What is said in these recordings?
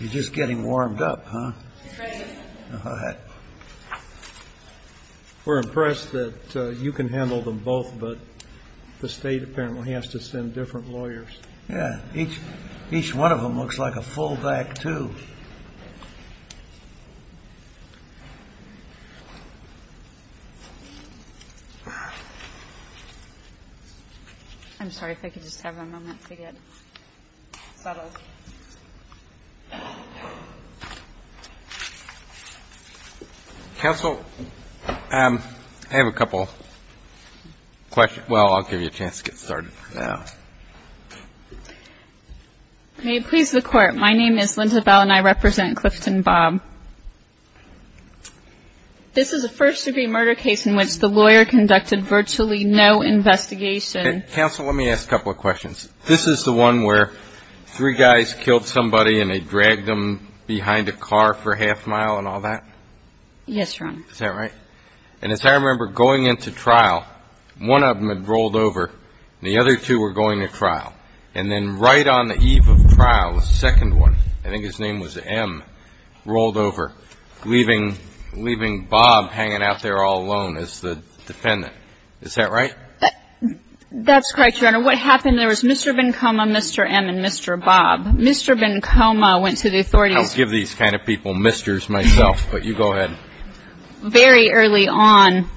You're just getting warmed up, huh? All right. We're impressed that you can handle them both, but the state apparently has to send different lawyers. Yeah. Each one of them looks like a full-back, too. I'm sorry if I could just have a moment to get settled. Counsel, I have a couple questions. Well, I'll give you a chance to get started now. May it please the Court, my name is Linda Bell and I represent Clifton Bob. This is a first-degree murder case in which the lawyer conducted virtually no investigation. Counsel, let me ask a couple of questions. This is the one where three guys killed somebody and they dragged them behind a car for a half mile and all that? Yes, Your Honor. Is that right? And as I remember going into trial, one of them had rolled over and the other two were going to trial. And then right on the eve of trial, the second one, I think his name was M, rolled over, leaving Bob hanging out there all alone as the defendant. Is that right? That's correct, Your Honor. What happened, there was Mr. Bencoma, Mr. M, and Mr. Bob. Mr. Bencoma went to the authorities. I'll give these kind of people misters myself, but you go ahead. Very early on,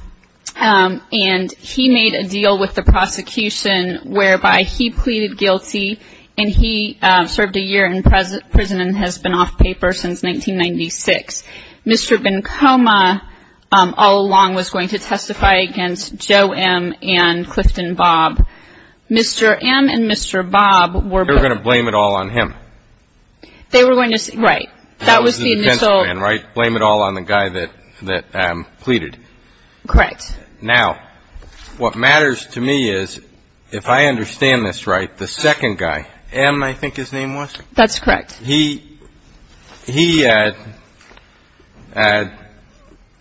and he made a deal with the prosecution whereby he pleaded guilty and he served a year in prison and has been off paper since 1996. Mr. Bencoma all along was going to testify against Joe M and Clifton Bob. Mr. M and Mr. Bob were going to blame it all on him. They were going to, right. Blame it all on the guy that pleaded. Correct. Now, what matters to me is, if I understand this right, the second guy, M, I think his name was? That's correct. He had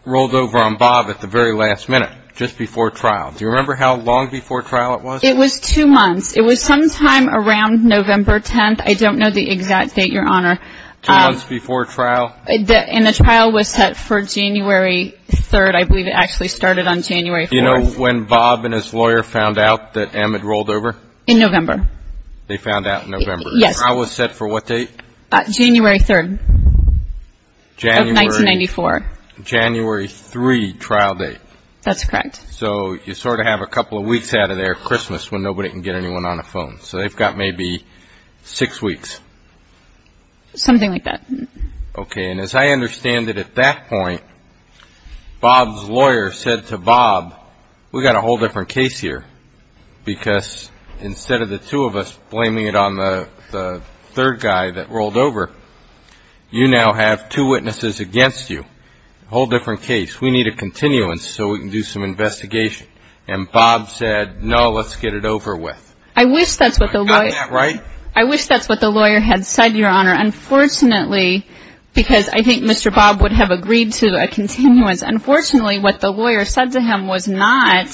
rolled over on Bob at the very last minute, just before trial. Do you remember how long before trial it was? It was two months. It was sometime around November 10th. I don't know the exact date, Your Honor. Two months before trial? And the trial was set for January 3rd. I believe it actually started on January 4th. Do you know when Bob and his lawyer found out that M had rolled over? In November. They found out in November. Yes. The trial was set for what date? January 3rd of 1994. January 3 trial date. That's correct. So you sort of have a couple of weeks out of there, Christmas, when nobody can get anyone on the phone. So they've got maybe six weeks. Something like that. Okay. And as I understand it, at that point, Bob's lawyer said to Bob, we've got a whole different case here because instead of the two of us blaming it on the third guy that rolled over, you now have two witnesses against you. A whole different case. We need a continuance so we can do some investigation. And Bob said, no, let's get it over with. I wish that's what the lawyer had said, Your Honor. Unfortunately, because I think Mr. Bob would have agreed to a continuance, unfortunately what the lawyer said to him was not,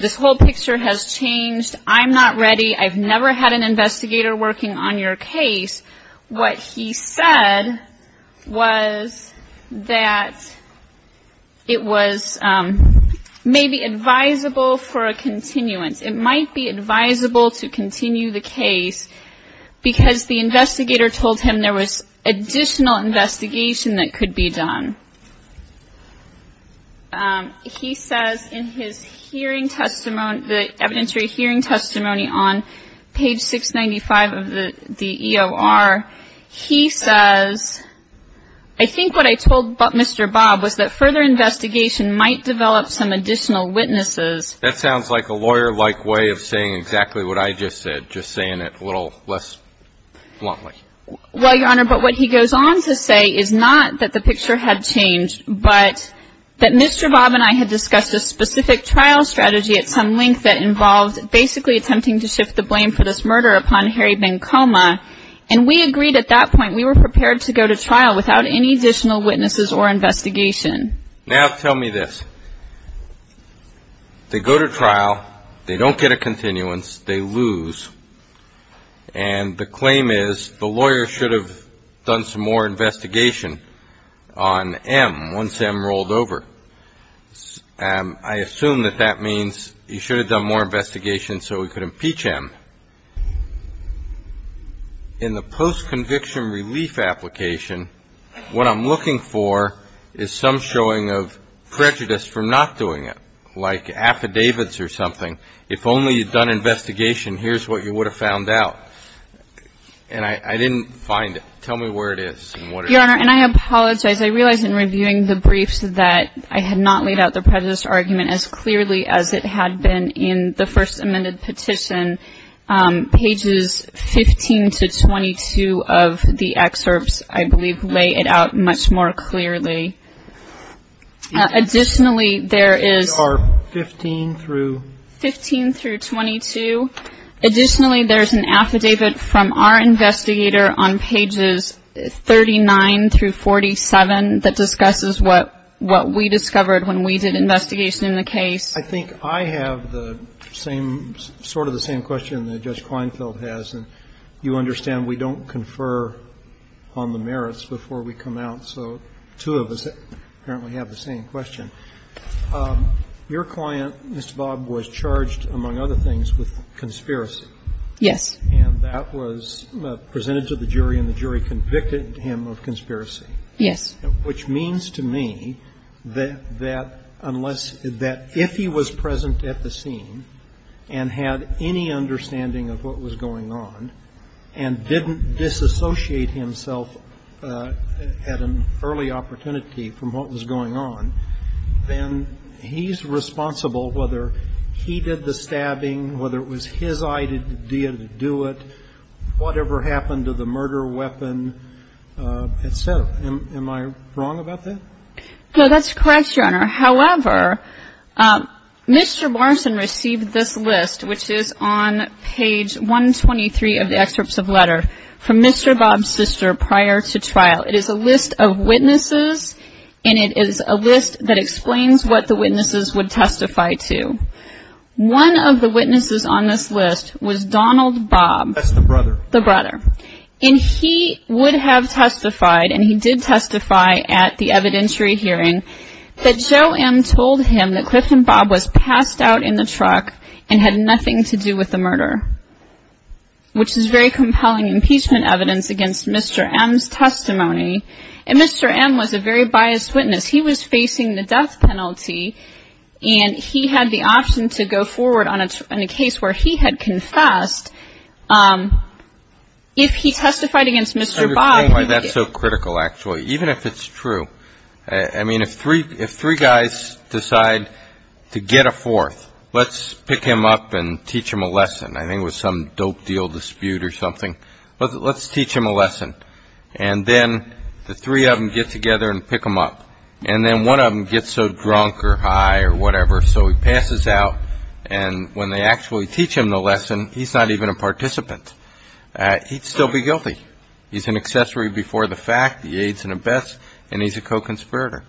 this whole picture has changed. I'm not ready. I've never had an investigator working on your case. What he said was that it was maybe advisable for a continuance. It might be advisable to continue the case because the investigator told him there was additional investigation that could be done. He says in his hearing testimony, the evidentiary hearing testimony on page 695 of the EOR, he says, I think what I told Mr. Bob was that further investigation might develop some additional witnesses. That sounds like a lawyer-like way of saying exactly what I just said, just saying it a little less bluntly. Well, Your Honor, but what he goes on to say is not that the picture had changed, but that Mr. Bob and I had discussed a specific trial strategy at some length that involved basically attempting to shift the blame for this murder upon Harry Bencoma. And we agreed at that point we were prepared to go to trial without any additional witnesses or investigation. Now tell me this. They go to trial. They don't get a continuance. They lose. And the claim is the lawyer should have done some more investigation on M once M rolled over. I assume that that means he should have done more investigation so he could impeach M. In the post-conviction relief application, what I'm looking for is some showing of prejudice for not doing it, like affidavits or something. If only you'd done investigation, here's what you would have found out. And I didn't find it. Tell me where it is and what it is. Your Honor, and I apologize. I realize in reviewing the briefs that I had not laid out the prejudice argument as clearly as it had been in the first recommended petition, pages 15 to 22 of the excerpts, I believe, lay it out much more clearly. Additionally, there is 15 through 22. Additionally, there's an affidavit from our investigator on pages 39 through 47 that discusses what we discovered when we did investigation in the case. I think I have the same, sort of the same question that Judge Kleinfeld has. And you understand we don't confer on the merits before we come out. So two of us apparently have the same question. Your client, Mr. Bob, was charged, among other things, with conspiracy. Yes. And that was presented to the jury, and the jury convicted him of conspiracy. Yes. Which means to me that unless, that if he was present at the scene and had any understanding of what was going on and didn't disassociate himself at an early opportunity from what was going on, then he's responsible whether he did the stabbing, whether it was his idea to do it, whatever happened to the murder weapon, et cetera. Am I wrong about that? No, that's correct, Your Honor. However, Mr. Morrison received this list, which is on page 123 of the excerpts of letter, from Mr. Bob's sister prior to trial. It is a list of witnesses, and it is a list that explains what the witnesses would testify to. One of the witnesses on this list was Donald Bob. That's the brother. The brother. And he would have testified, and he did testify at the evidentiary hearing, that Joe M. told him that Clifton Bob was passed out in the truck and had nothing to do with the murder, which is very compelling impeachment evidence against Mr. M.'s testimony. And Mr. M. was a very biased witness. He was facing the death penalty, and he had the option to go forward on a case where he had confessed. If he testified against Mr. Bob. I understand why that's so critical, actually, even if it's true. I mean, if three guys decide to get a fourth, let's pick him up and teach him a lesson. I think it was some dope deal dispute or something. Let's teach him a lesson. And then the three of them get together and pick him up, and then one of them gets so drunk or high or whatever, so he passes out, and when they actually teach him the lesson, he's not even a participant. He'd still be guilty. He's an accessory before the fact. He aids and abets, and he's a co-conspirator.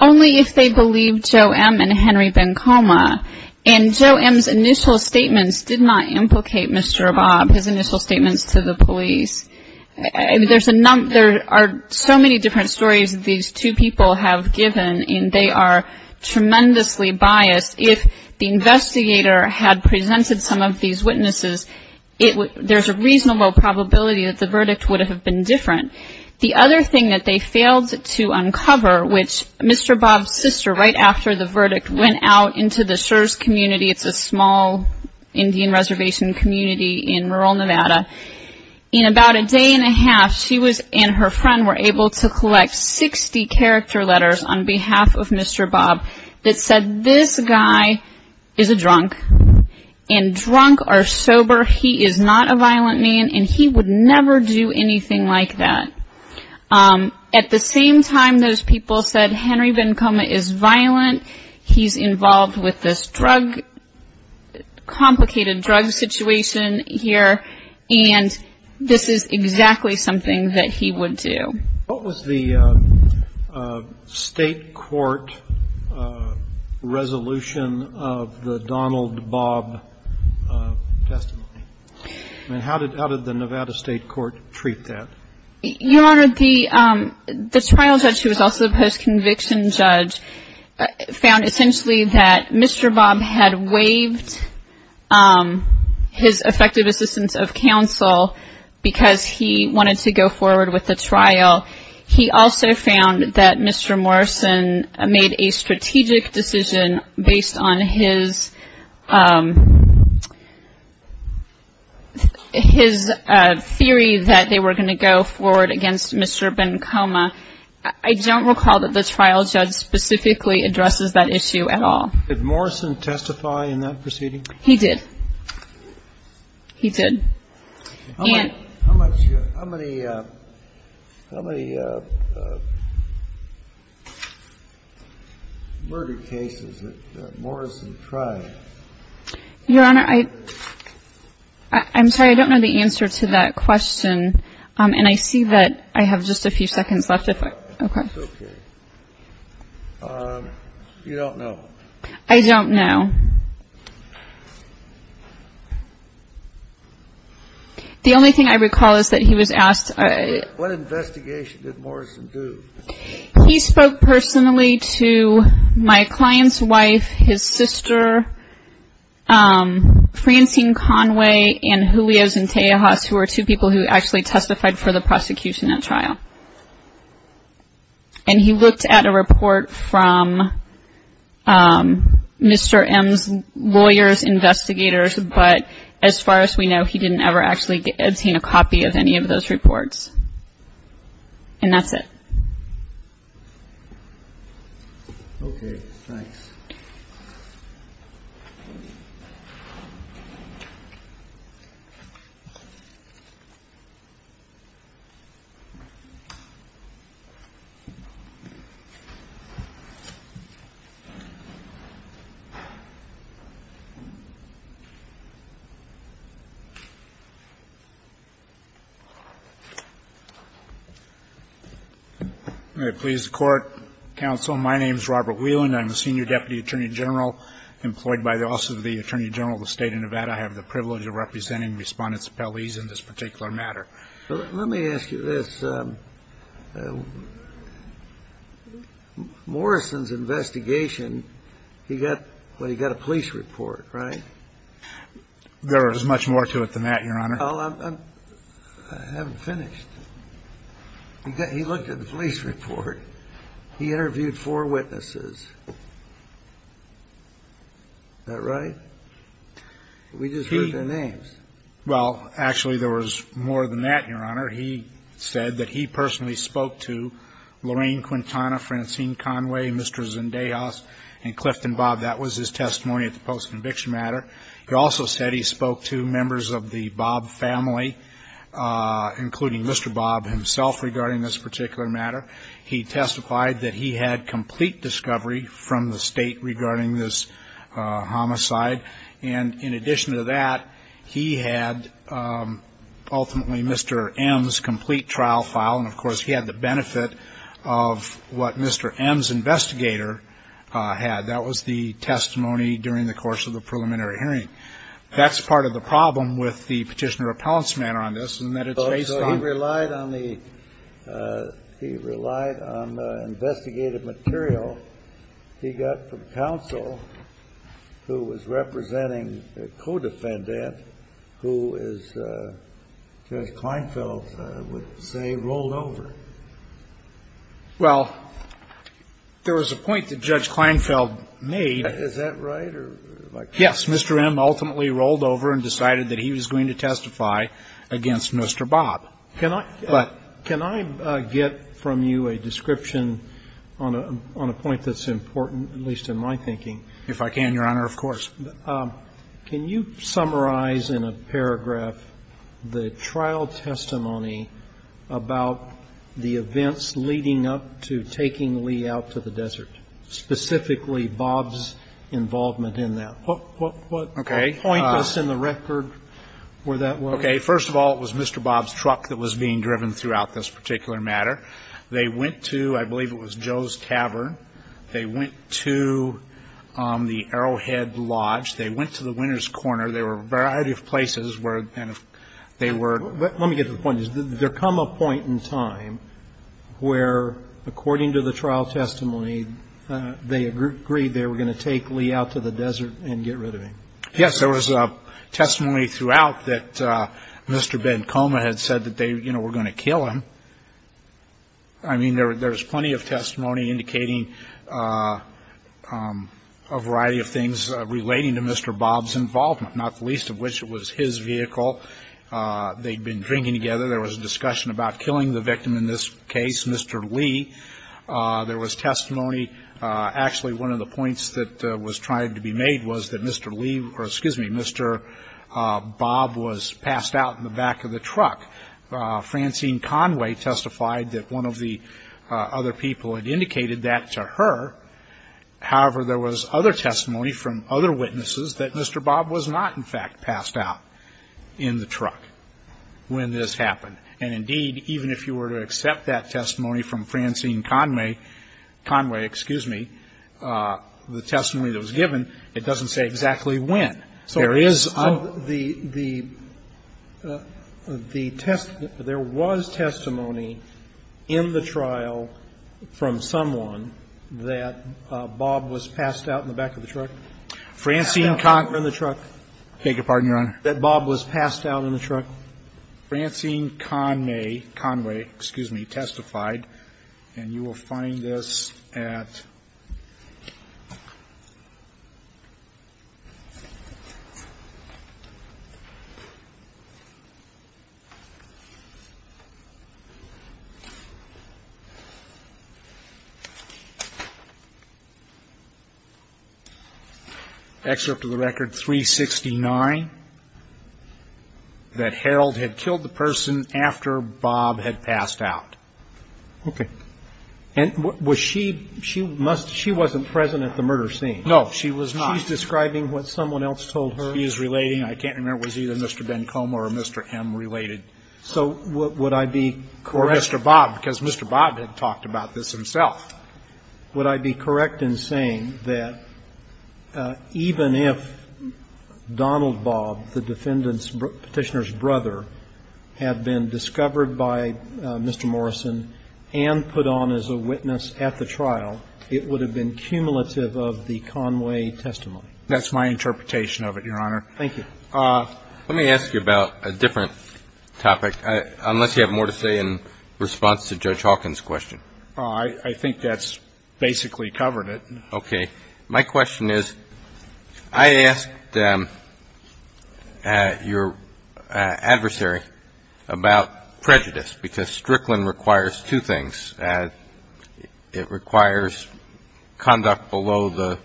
Only if they believed Joe M. and Henry Vancoma, and Joe M.'s initial statements did not implicate Mr. Bob, his initial statements to the police. There are so many different stories that these two people have given, and they are tremendously biased. If the investigator had presented some of these witnesses, there's a reasonable probability that the verdict would have been different. The other thing that they failed to uncover, which Mr. Bob's sister, right after the verdict, went out into the Shurz community. It's a small Indian reservation community in rural Nevada. In about a day and a half, she and her friend were able to collect 60 character letters on behalf of Mr. Bob that said, this guy is a drunk, and drunk or sober, he is not a violent man, and he would never do anything like that. At the same time, those people said, Henry Vancoma is violent. He's involved with this drug, complicated drug situation here. And this is exactly something that he would do. What was the state court resolution of the Donald Bob testimony? I mean, how did the Nevada state court treat that? Your Honor, the trial judge, who was also the post-conviction judge, found essentially that Mr. Bob had waived his effective assistance of counsel because he wanted to go forward with the trial. He also found that Mr. Morrison made a strategic decision based on his theory that they were going to go forward against Mr. Vancoma. I don't recall that the trial judge specifically addresses that issue at all. Did Morrison testify in that proceeding? He did. He did. How many murder cases did Morrison try? Your Honor, I'm sorry, I don't know the answer to that question. And I see that I have just a few seconds left. It's okay. You don't know? I don't know. The only thing I recall is that he was asked. What investigation did Morrison do? He spoke personally to my client's wife, his sister, Francine Conway, and Julio Zentejas, who are two people who actually testified for the prosecution at trial. And he looked at a report from Mr. M's lawyers, investigators, but as far as we know, he didn't ever actually obtain a copy of any of those reports. And that's it. Okay. Thanks. May it please the Court, Counsel, my name is Robert Whelan. I'm the Senior Deputy Attorney General employed by also the Attorney General of the State of Nevada. I have the privilege of representing Respondents Appellees in this particular matter. Let me ask you this. Morrison's investigation, he got a police report, right? There was much more to it than that, Your Honor. I haven't finished. He looked at the police report. He interviewed four witnesses. Is that right? We just heard their names. Well, actually, there was more than that, Your Honor. He said that he personally spoke to Lorraine Quintana, Francine Conway, Mr. Zentejas, and Clifton Bob. That was his testimony at the post-conviction matter. He also said he spoke to members of the Bob family, including Mr. Bob himself, regarding this particular matter. He testified that he had complete discovery from the State regarding this homicide. And in addition to that, he had ultimately Mr. M's complete trial file. And, of course, he had the benefit of what Mr. M's investigator had. That was the testimony during the course of the preliminary hearing. That's part of the problem with the Petitioner Appellant's manner on this, in that it's based on the ---- So he relied on the ---- he relied on the investigative material he got from counsel who was representing a co-defendant who is, Judge Kleinfeld would say, rolled over. Well, there was a point that Judge Kleinfeld made. Is that right? Yes. Mr. M ultimately rolled over and decided that he was going to testify against Mr. Bob. But can I get from you a description on a point that's important, at least in my thinking? If I can, Your Honor, of course. Can you summarize in a paragraph the trial testimony about the events leading up to taking Lee out to the desert, specifically Bob's involvement in that? What point was in the record where that was? Okay. First of all, it was Mr. Bob's truck that was being driven throughout this particular matter. They went to the Arrowhead Lodge. They went to the Winner's Corner. There were a variety of places where they were ---- Let me get to the point. Did there come a point in time where, according to the trial testimony, they agreed they were going to take Lee out to the desert and get rid of him? Yes. There was testimony throughout that Mr. Bencoma had said that they, you know, were going to kill him. I mean, there's plenty of testimony indicating a variety of things relating to Mr. Bob's involvement, not the least of which it was his vehicle. They'd been drinking together. There was a discussion about killing the victim in this case, Mr. Lee. There was testimony. Actually, one of the points that was trying to be made was that Mr. Lee or, excuse me, Mr. Bob was passed out in the back of the truck. Francine Conway testified that one of the other people had indicated that to her. However, there was other testimony from other witnesses that Mr. Bob was not, in fact, passed out in the truck when this happened. And, indeed, even if you were to accept that testimony from Francine Conway, excuse me, the testimony that was given, it doesn't say exactly when. So there is a the, the, the test, there was testimony in the trial from someone that Bob was passed out in the back of the truck. Francine Conway. Passed out in the back of the truck. I beg your pardon, Your Honor. That Bob was passed out in the truck. Francine Conway, excuse me, testified, and you will find this at. Excerpt of the record 369. That Harold had killed the person after Bob had passed out. Okay. And was she, she must, she wasn't present at the murder scene. No, she was not. She's describing what someone else told her. She is relating, I can't remember, it was either Mr. Bencomo or Mr. M related. So would I be correct. Or Mr. Bob, because Mr. Bob had talked about this himself. Would I be correct in saying that even if Donald Bob, the defendant's, Petitioner's had been discovered by Mr. Morrison and put on as a witness at the trial, it would have been cumulative of the Conway testimony? That's my interpretation of it, Your Honor. Thank you. Let me ask you about a different topic, unless you have more to say in response to Judge Hawkins' question. I think that's basically covered it. Okay. My question is, I asked your adversary about prejudice, because Strickland requires two things. It requires conduct below the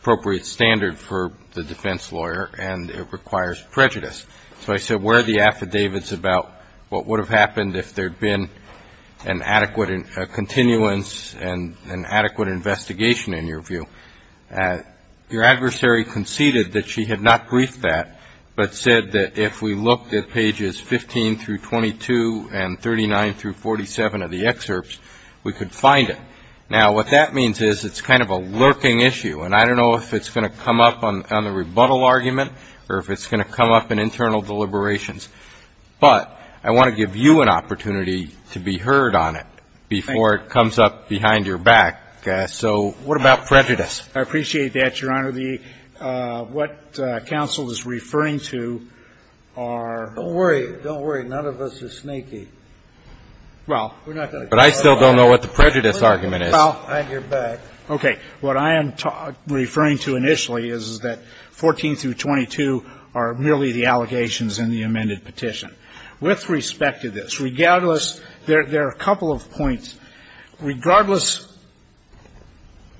appropriate standard for the defense lawyer, and it requires prejudice. So I said, where are the affidavits about what would have happened if there had been an adequate continuance and an adequate investigation, in your view? Your adversary conceded that she had not briefed that, but said that if we looked at pages 15 through 22 and 39 through 47 of the excerpts, we could find it. Now, what that means is it's kind of a lurking issue, and I don't know if it's going to come up on the rebuttal argument or if it's going to come up in internal deliberations. But I want to give you an opportunity to be heard on it before it comes up behind your back. So what about prejudice? I appreciate that, Your Honor. The what counsel is referring to are. Don't worry. Don't worry. None of us are sneaky. Well, we're not going to. But I still don't know what the prejudice argument is. Well, on your back. Okay. What I am referring to initially is that 14 through 22 are merely the allegations in the amended petition. With respect to this, regardless, there are a couple of points. Regardless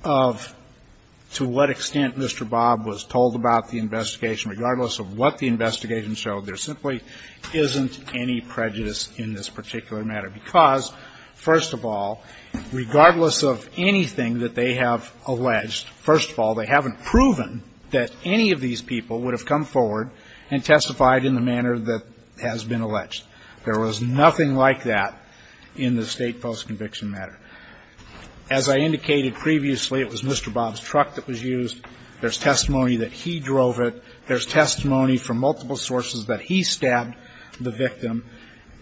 of to what extent Mr. Bob was told about the investigation, regardless of what the investigation showed, there simply isn't any prejudice in this particular matter because, first of all, regardless of anything that they have alleged, first of all, they haven't proven that any of these people would have come forward and testified in the manner that has been alleged. There was nothing like that in the state post-conviction matter. As I indicated previously, it was Mr. Bob's truck that was used. There's testimony that he drove it. There's testimony from multiple sources that he stabbed the victim.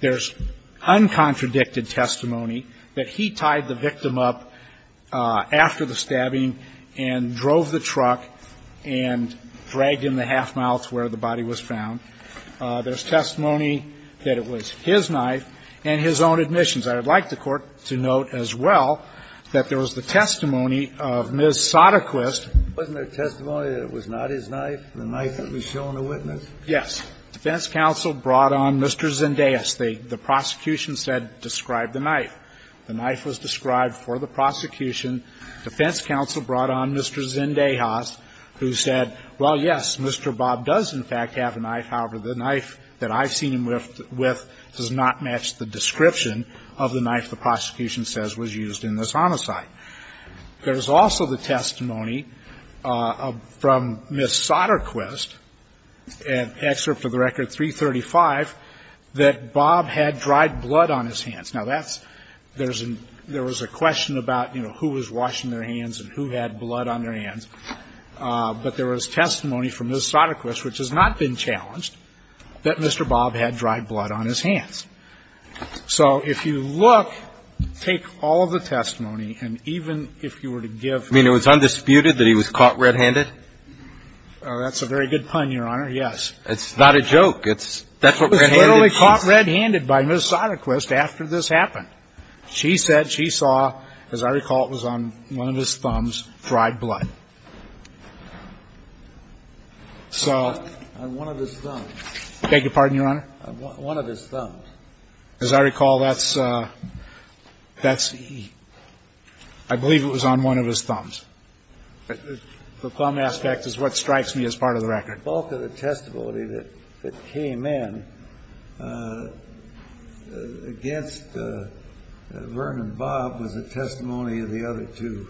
There's uncontradicted testimony that he tied the victim up after the stabbing and drove the truck and dragged him the half-mile to where the body was found. There's testimony that it was his knife and his own admissions. I would like the Court to note as well that there was the testimony of Ms. Sadequist. Wasn't there testimony that it was not his knife, the knife that was shown to witness? Yes. Defense counsel brought on Mr. Zendejas. The prosecution said, describe the knife. The knife was described for the prosecution. Defense counsel brought on Mr. Zendejas, who said, well, yes, Mr. Bob does, in fact, have a knife. However, the knife that I've seen him with does not match the description of the knife the prosecution says was used in this homicide. There's also the testimony from Ms. Sadequist, an excerpt of the record 335, that Bob had dried blood on his hands. Now, that's – there was a question about, you know, who was washing their hands and who had blood on their hands. But there was testimony from Ms. Sadequist, which has not been challenged, that Mr. Bob had dried blood on his hands. So if you look, take all of the testimony, and even if you were to give – You mean it was undisputed that he was caught red-handed? Oh, that's a very good pun, Your Honor, yes. It's not a joke. It's – that's what red-handed means. He was literally caught red-handed by Ms. Sadequist after this happened. She said she saw, as I recall, it was on one of his thumbs, dried blood. So – On one of his thumbs. I beg your pardon, Your Honor? On one of his thumbs. As I recall, that's – that's – I believe it was on one of his thumbs. The thumb aspect is what strikes me as part of the record. The bulk of the testimony that came in against Vern and Bob was the testimony of the other two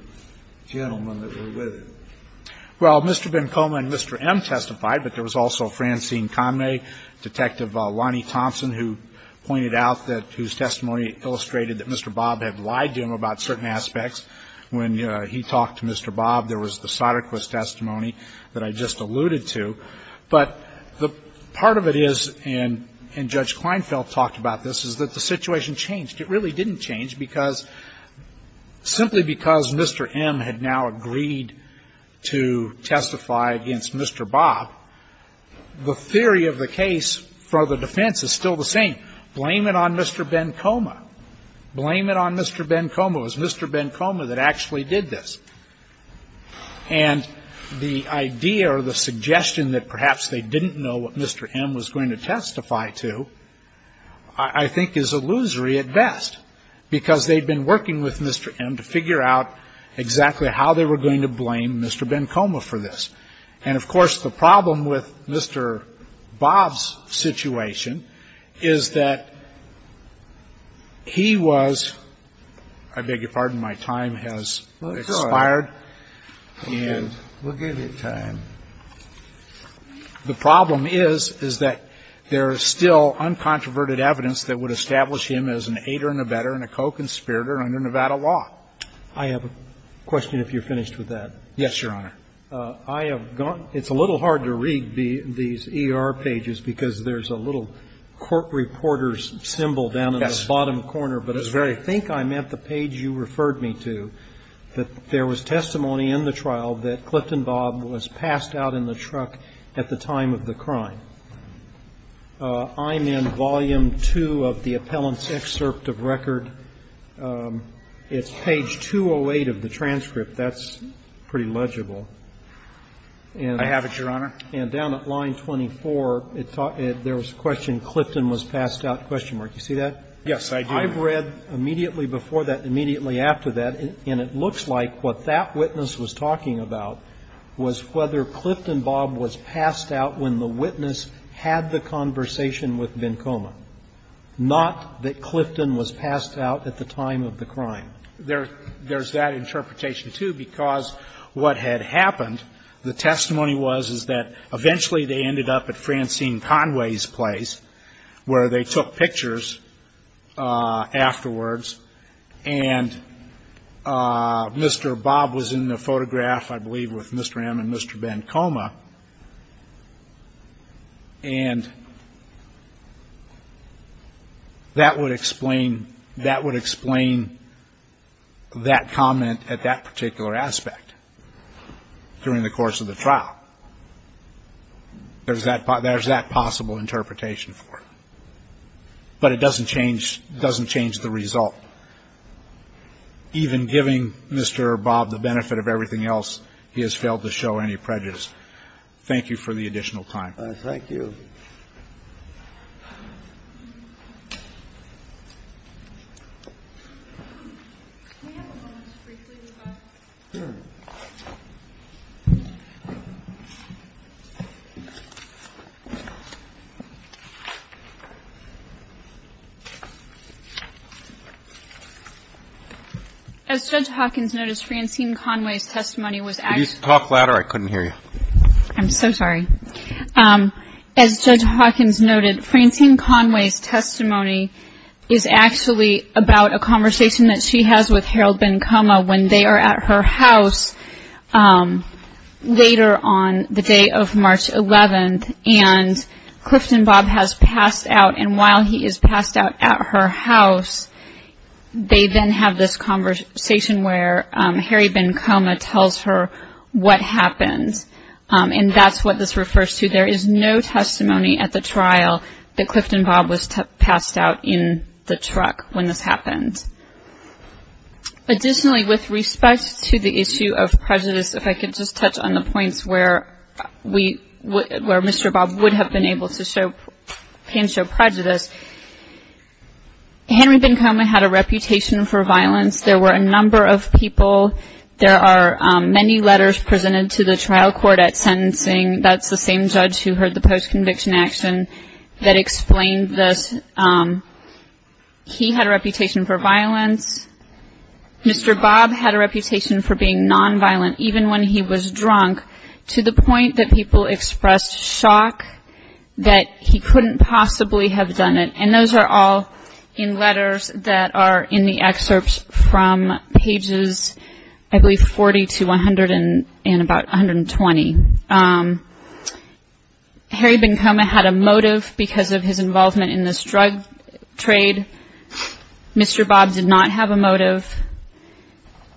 gentlemen that were with him. Well, Mr. Bencoma and Mr. M testified, but there was also Francine Conway, Detective Lonnie Thompson, who pointed out that – whose testimony illustrated that Mr. Bob had lied to him about certain aspects when he talked to Mr. Bob. There was the Sadequist testimony that I just alluded to. But the part of it is, and Judge Kleinfeld talked about this, is that the situation changed. It really didn't change because – simply because Mr. M had now agreed to testify against Mr. Bob, the theory of the case for the defense is still the same. Blame it on Mr. Bencoma. Blame it on Mr. Bencoma. It was Mr. Bencoma that actually did this. And the idea or the suggestion that perhaps they didn't know what Mr. M was going to testify to, I think, is illusory at best, because they'd been working with Mr. M to figure out exactly how they were going to blame Mr. Bencoma for this. And, of course, the problem with Mr. Bob's situation is that he was – I beg your pardon. My time has expired. And we'll give you time. The problem is, is that there is still uncontroverted evidence that would establish him as an aider and abetter and a co-conspirator under Nevada law. I have a question if you're finished with that. Yes, Your Honor. I have gone – it's a little hard to read these ER pages, because there's a little court reporter's symbol down in the bottom corner. Yes. But I think I meant the page you referred me to, that there was testimony in the trial that Clifton Bob was passed out in the truck at the time of the crime. I'm in volume two of the appellant's excerpt of record. It's page 208 of the transcript. That's pretty legible. I have it, Your Honor. And down at line 24, there was a question, Clifton was passed out, question mark. You see that? Yes, I do. I've read immediately before that, immediately after that, and it looks like what that witness was talking about was whether Clifton Bob was passed out when the witness had the conversation with Bencoma, not that Clifton was passed out at the time of the crime. There's that interpretation, too, because what had happened, the testimony was, is that eventually they ended up at Francine Conway's place, where they took pictures afterwards, and Mr. Bob was in the photograph, I believe, with Mr. M and Mr. Bencoma. And that would explain that comment at that particular aspect during the course of the trial. There's that possible interpretation for it. But it doesn't change the result. Even giving Mr. Bob the benefit of everything else, he has failed to show any prejudice. Thank you for the additional time. Thank you. As Judge Hawkins noticed, Francine Conway's testimony was active. Could you talk louder? I couldn't hear you. I'm so sorry. As Judge Hawkins noted, Francine Conway's testimony is actually about a conversation that she has with Harold Bencoma when they are at her house later on the day of March 11th, and Clifton Bob has passed out, and while he is passed out at her house, they then have this conversation where Harry Bencoma tells her what happened. And that's what this refers to. There is no testimony at the trial that Clifton Bob was passed out in the truck when this happened. Additionally, with respect to the issue of prejudice, if I could just touch on the points where Mr. Bob would have been able to show prejudice. Henry Bencoma had a reputation for violence. There were a number of people. There are many letters presented to the trial court at sentencing. That's the same judge who heard the post-conviction action that explained this. He had a reputation for violence. Mr. Bob had a reputation for being nonviolent even when he was drunk to the point that people expressed shock that he couldn't possibly have done it. And those are all in letters that are in the excerpts from pages, I believe, 40 to 100 and about 120. Harry Bencoma had a motive because of his involvement in this drug trade. Mr. Bob did not have a motive.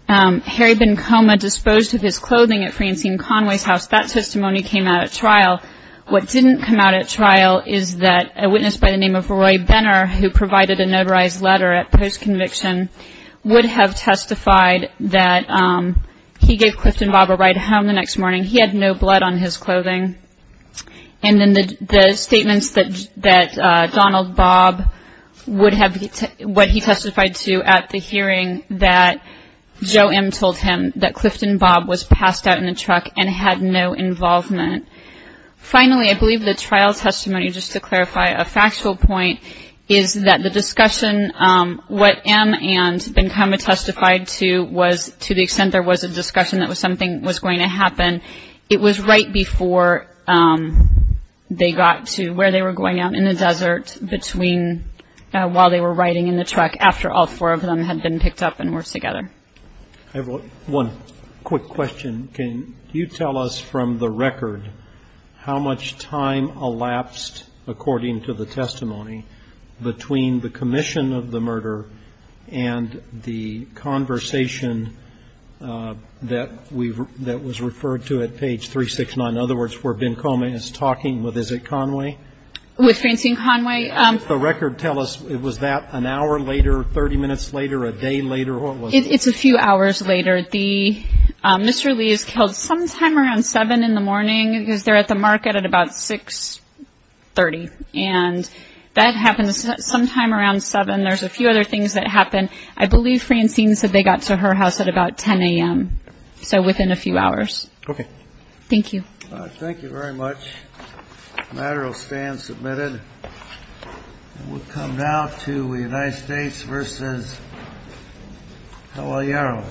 Harry Bencoma disposed of his clothing at Francine Conway's house. That testimony came out at trial. What didn't come out at trial is that a witness by the name of Roy Benner, who provided a notarized letter at post-conviction, would have testified that he gave Clifton Bob a ride home the next morning. He had no blood on his clothing. And then the statements that Donald Bob would have what he testified to at the hearing that Joe M. told him that Clifton Bob was passed out in a truck and had no involvement. Finally, I believe the trial testimony, just to clarify, a factual point is that the discussion what M. and Bencoma testified to was to the extent there was a discussion that something was going to happen. It was right before they got to where they were going out in the desert between while they were riding in the truck after all four of them had been picked up and were together. I have one quick question. Can you tell us from the record how much time elapsed, according to the testimony, between the commission of the murder and the conversation that was referred to at page 369? In other words, where Bencoma is talking with, is it Conway? With Francine Conway. Can you tell us, was that an hour later, 30 minutes later, a day later? It's a few hours later. Mr. Lee is killed sometime around 7 in the morning. He was there at the market at about 6.30. And that happened sometime around 7. There's a few other things that happened. I believe Francine said they got to her house at about 10 a.m., so within a few hours. Okay. Thank you. Thank you very much. The matter will stand submitted. We'll come now to the United States versus Hawaii Arrow. Thank you.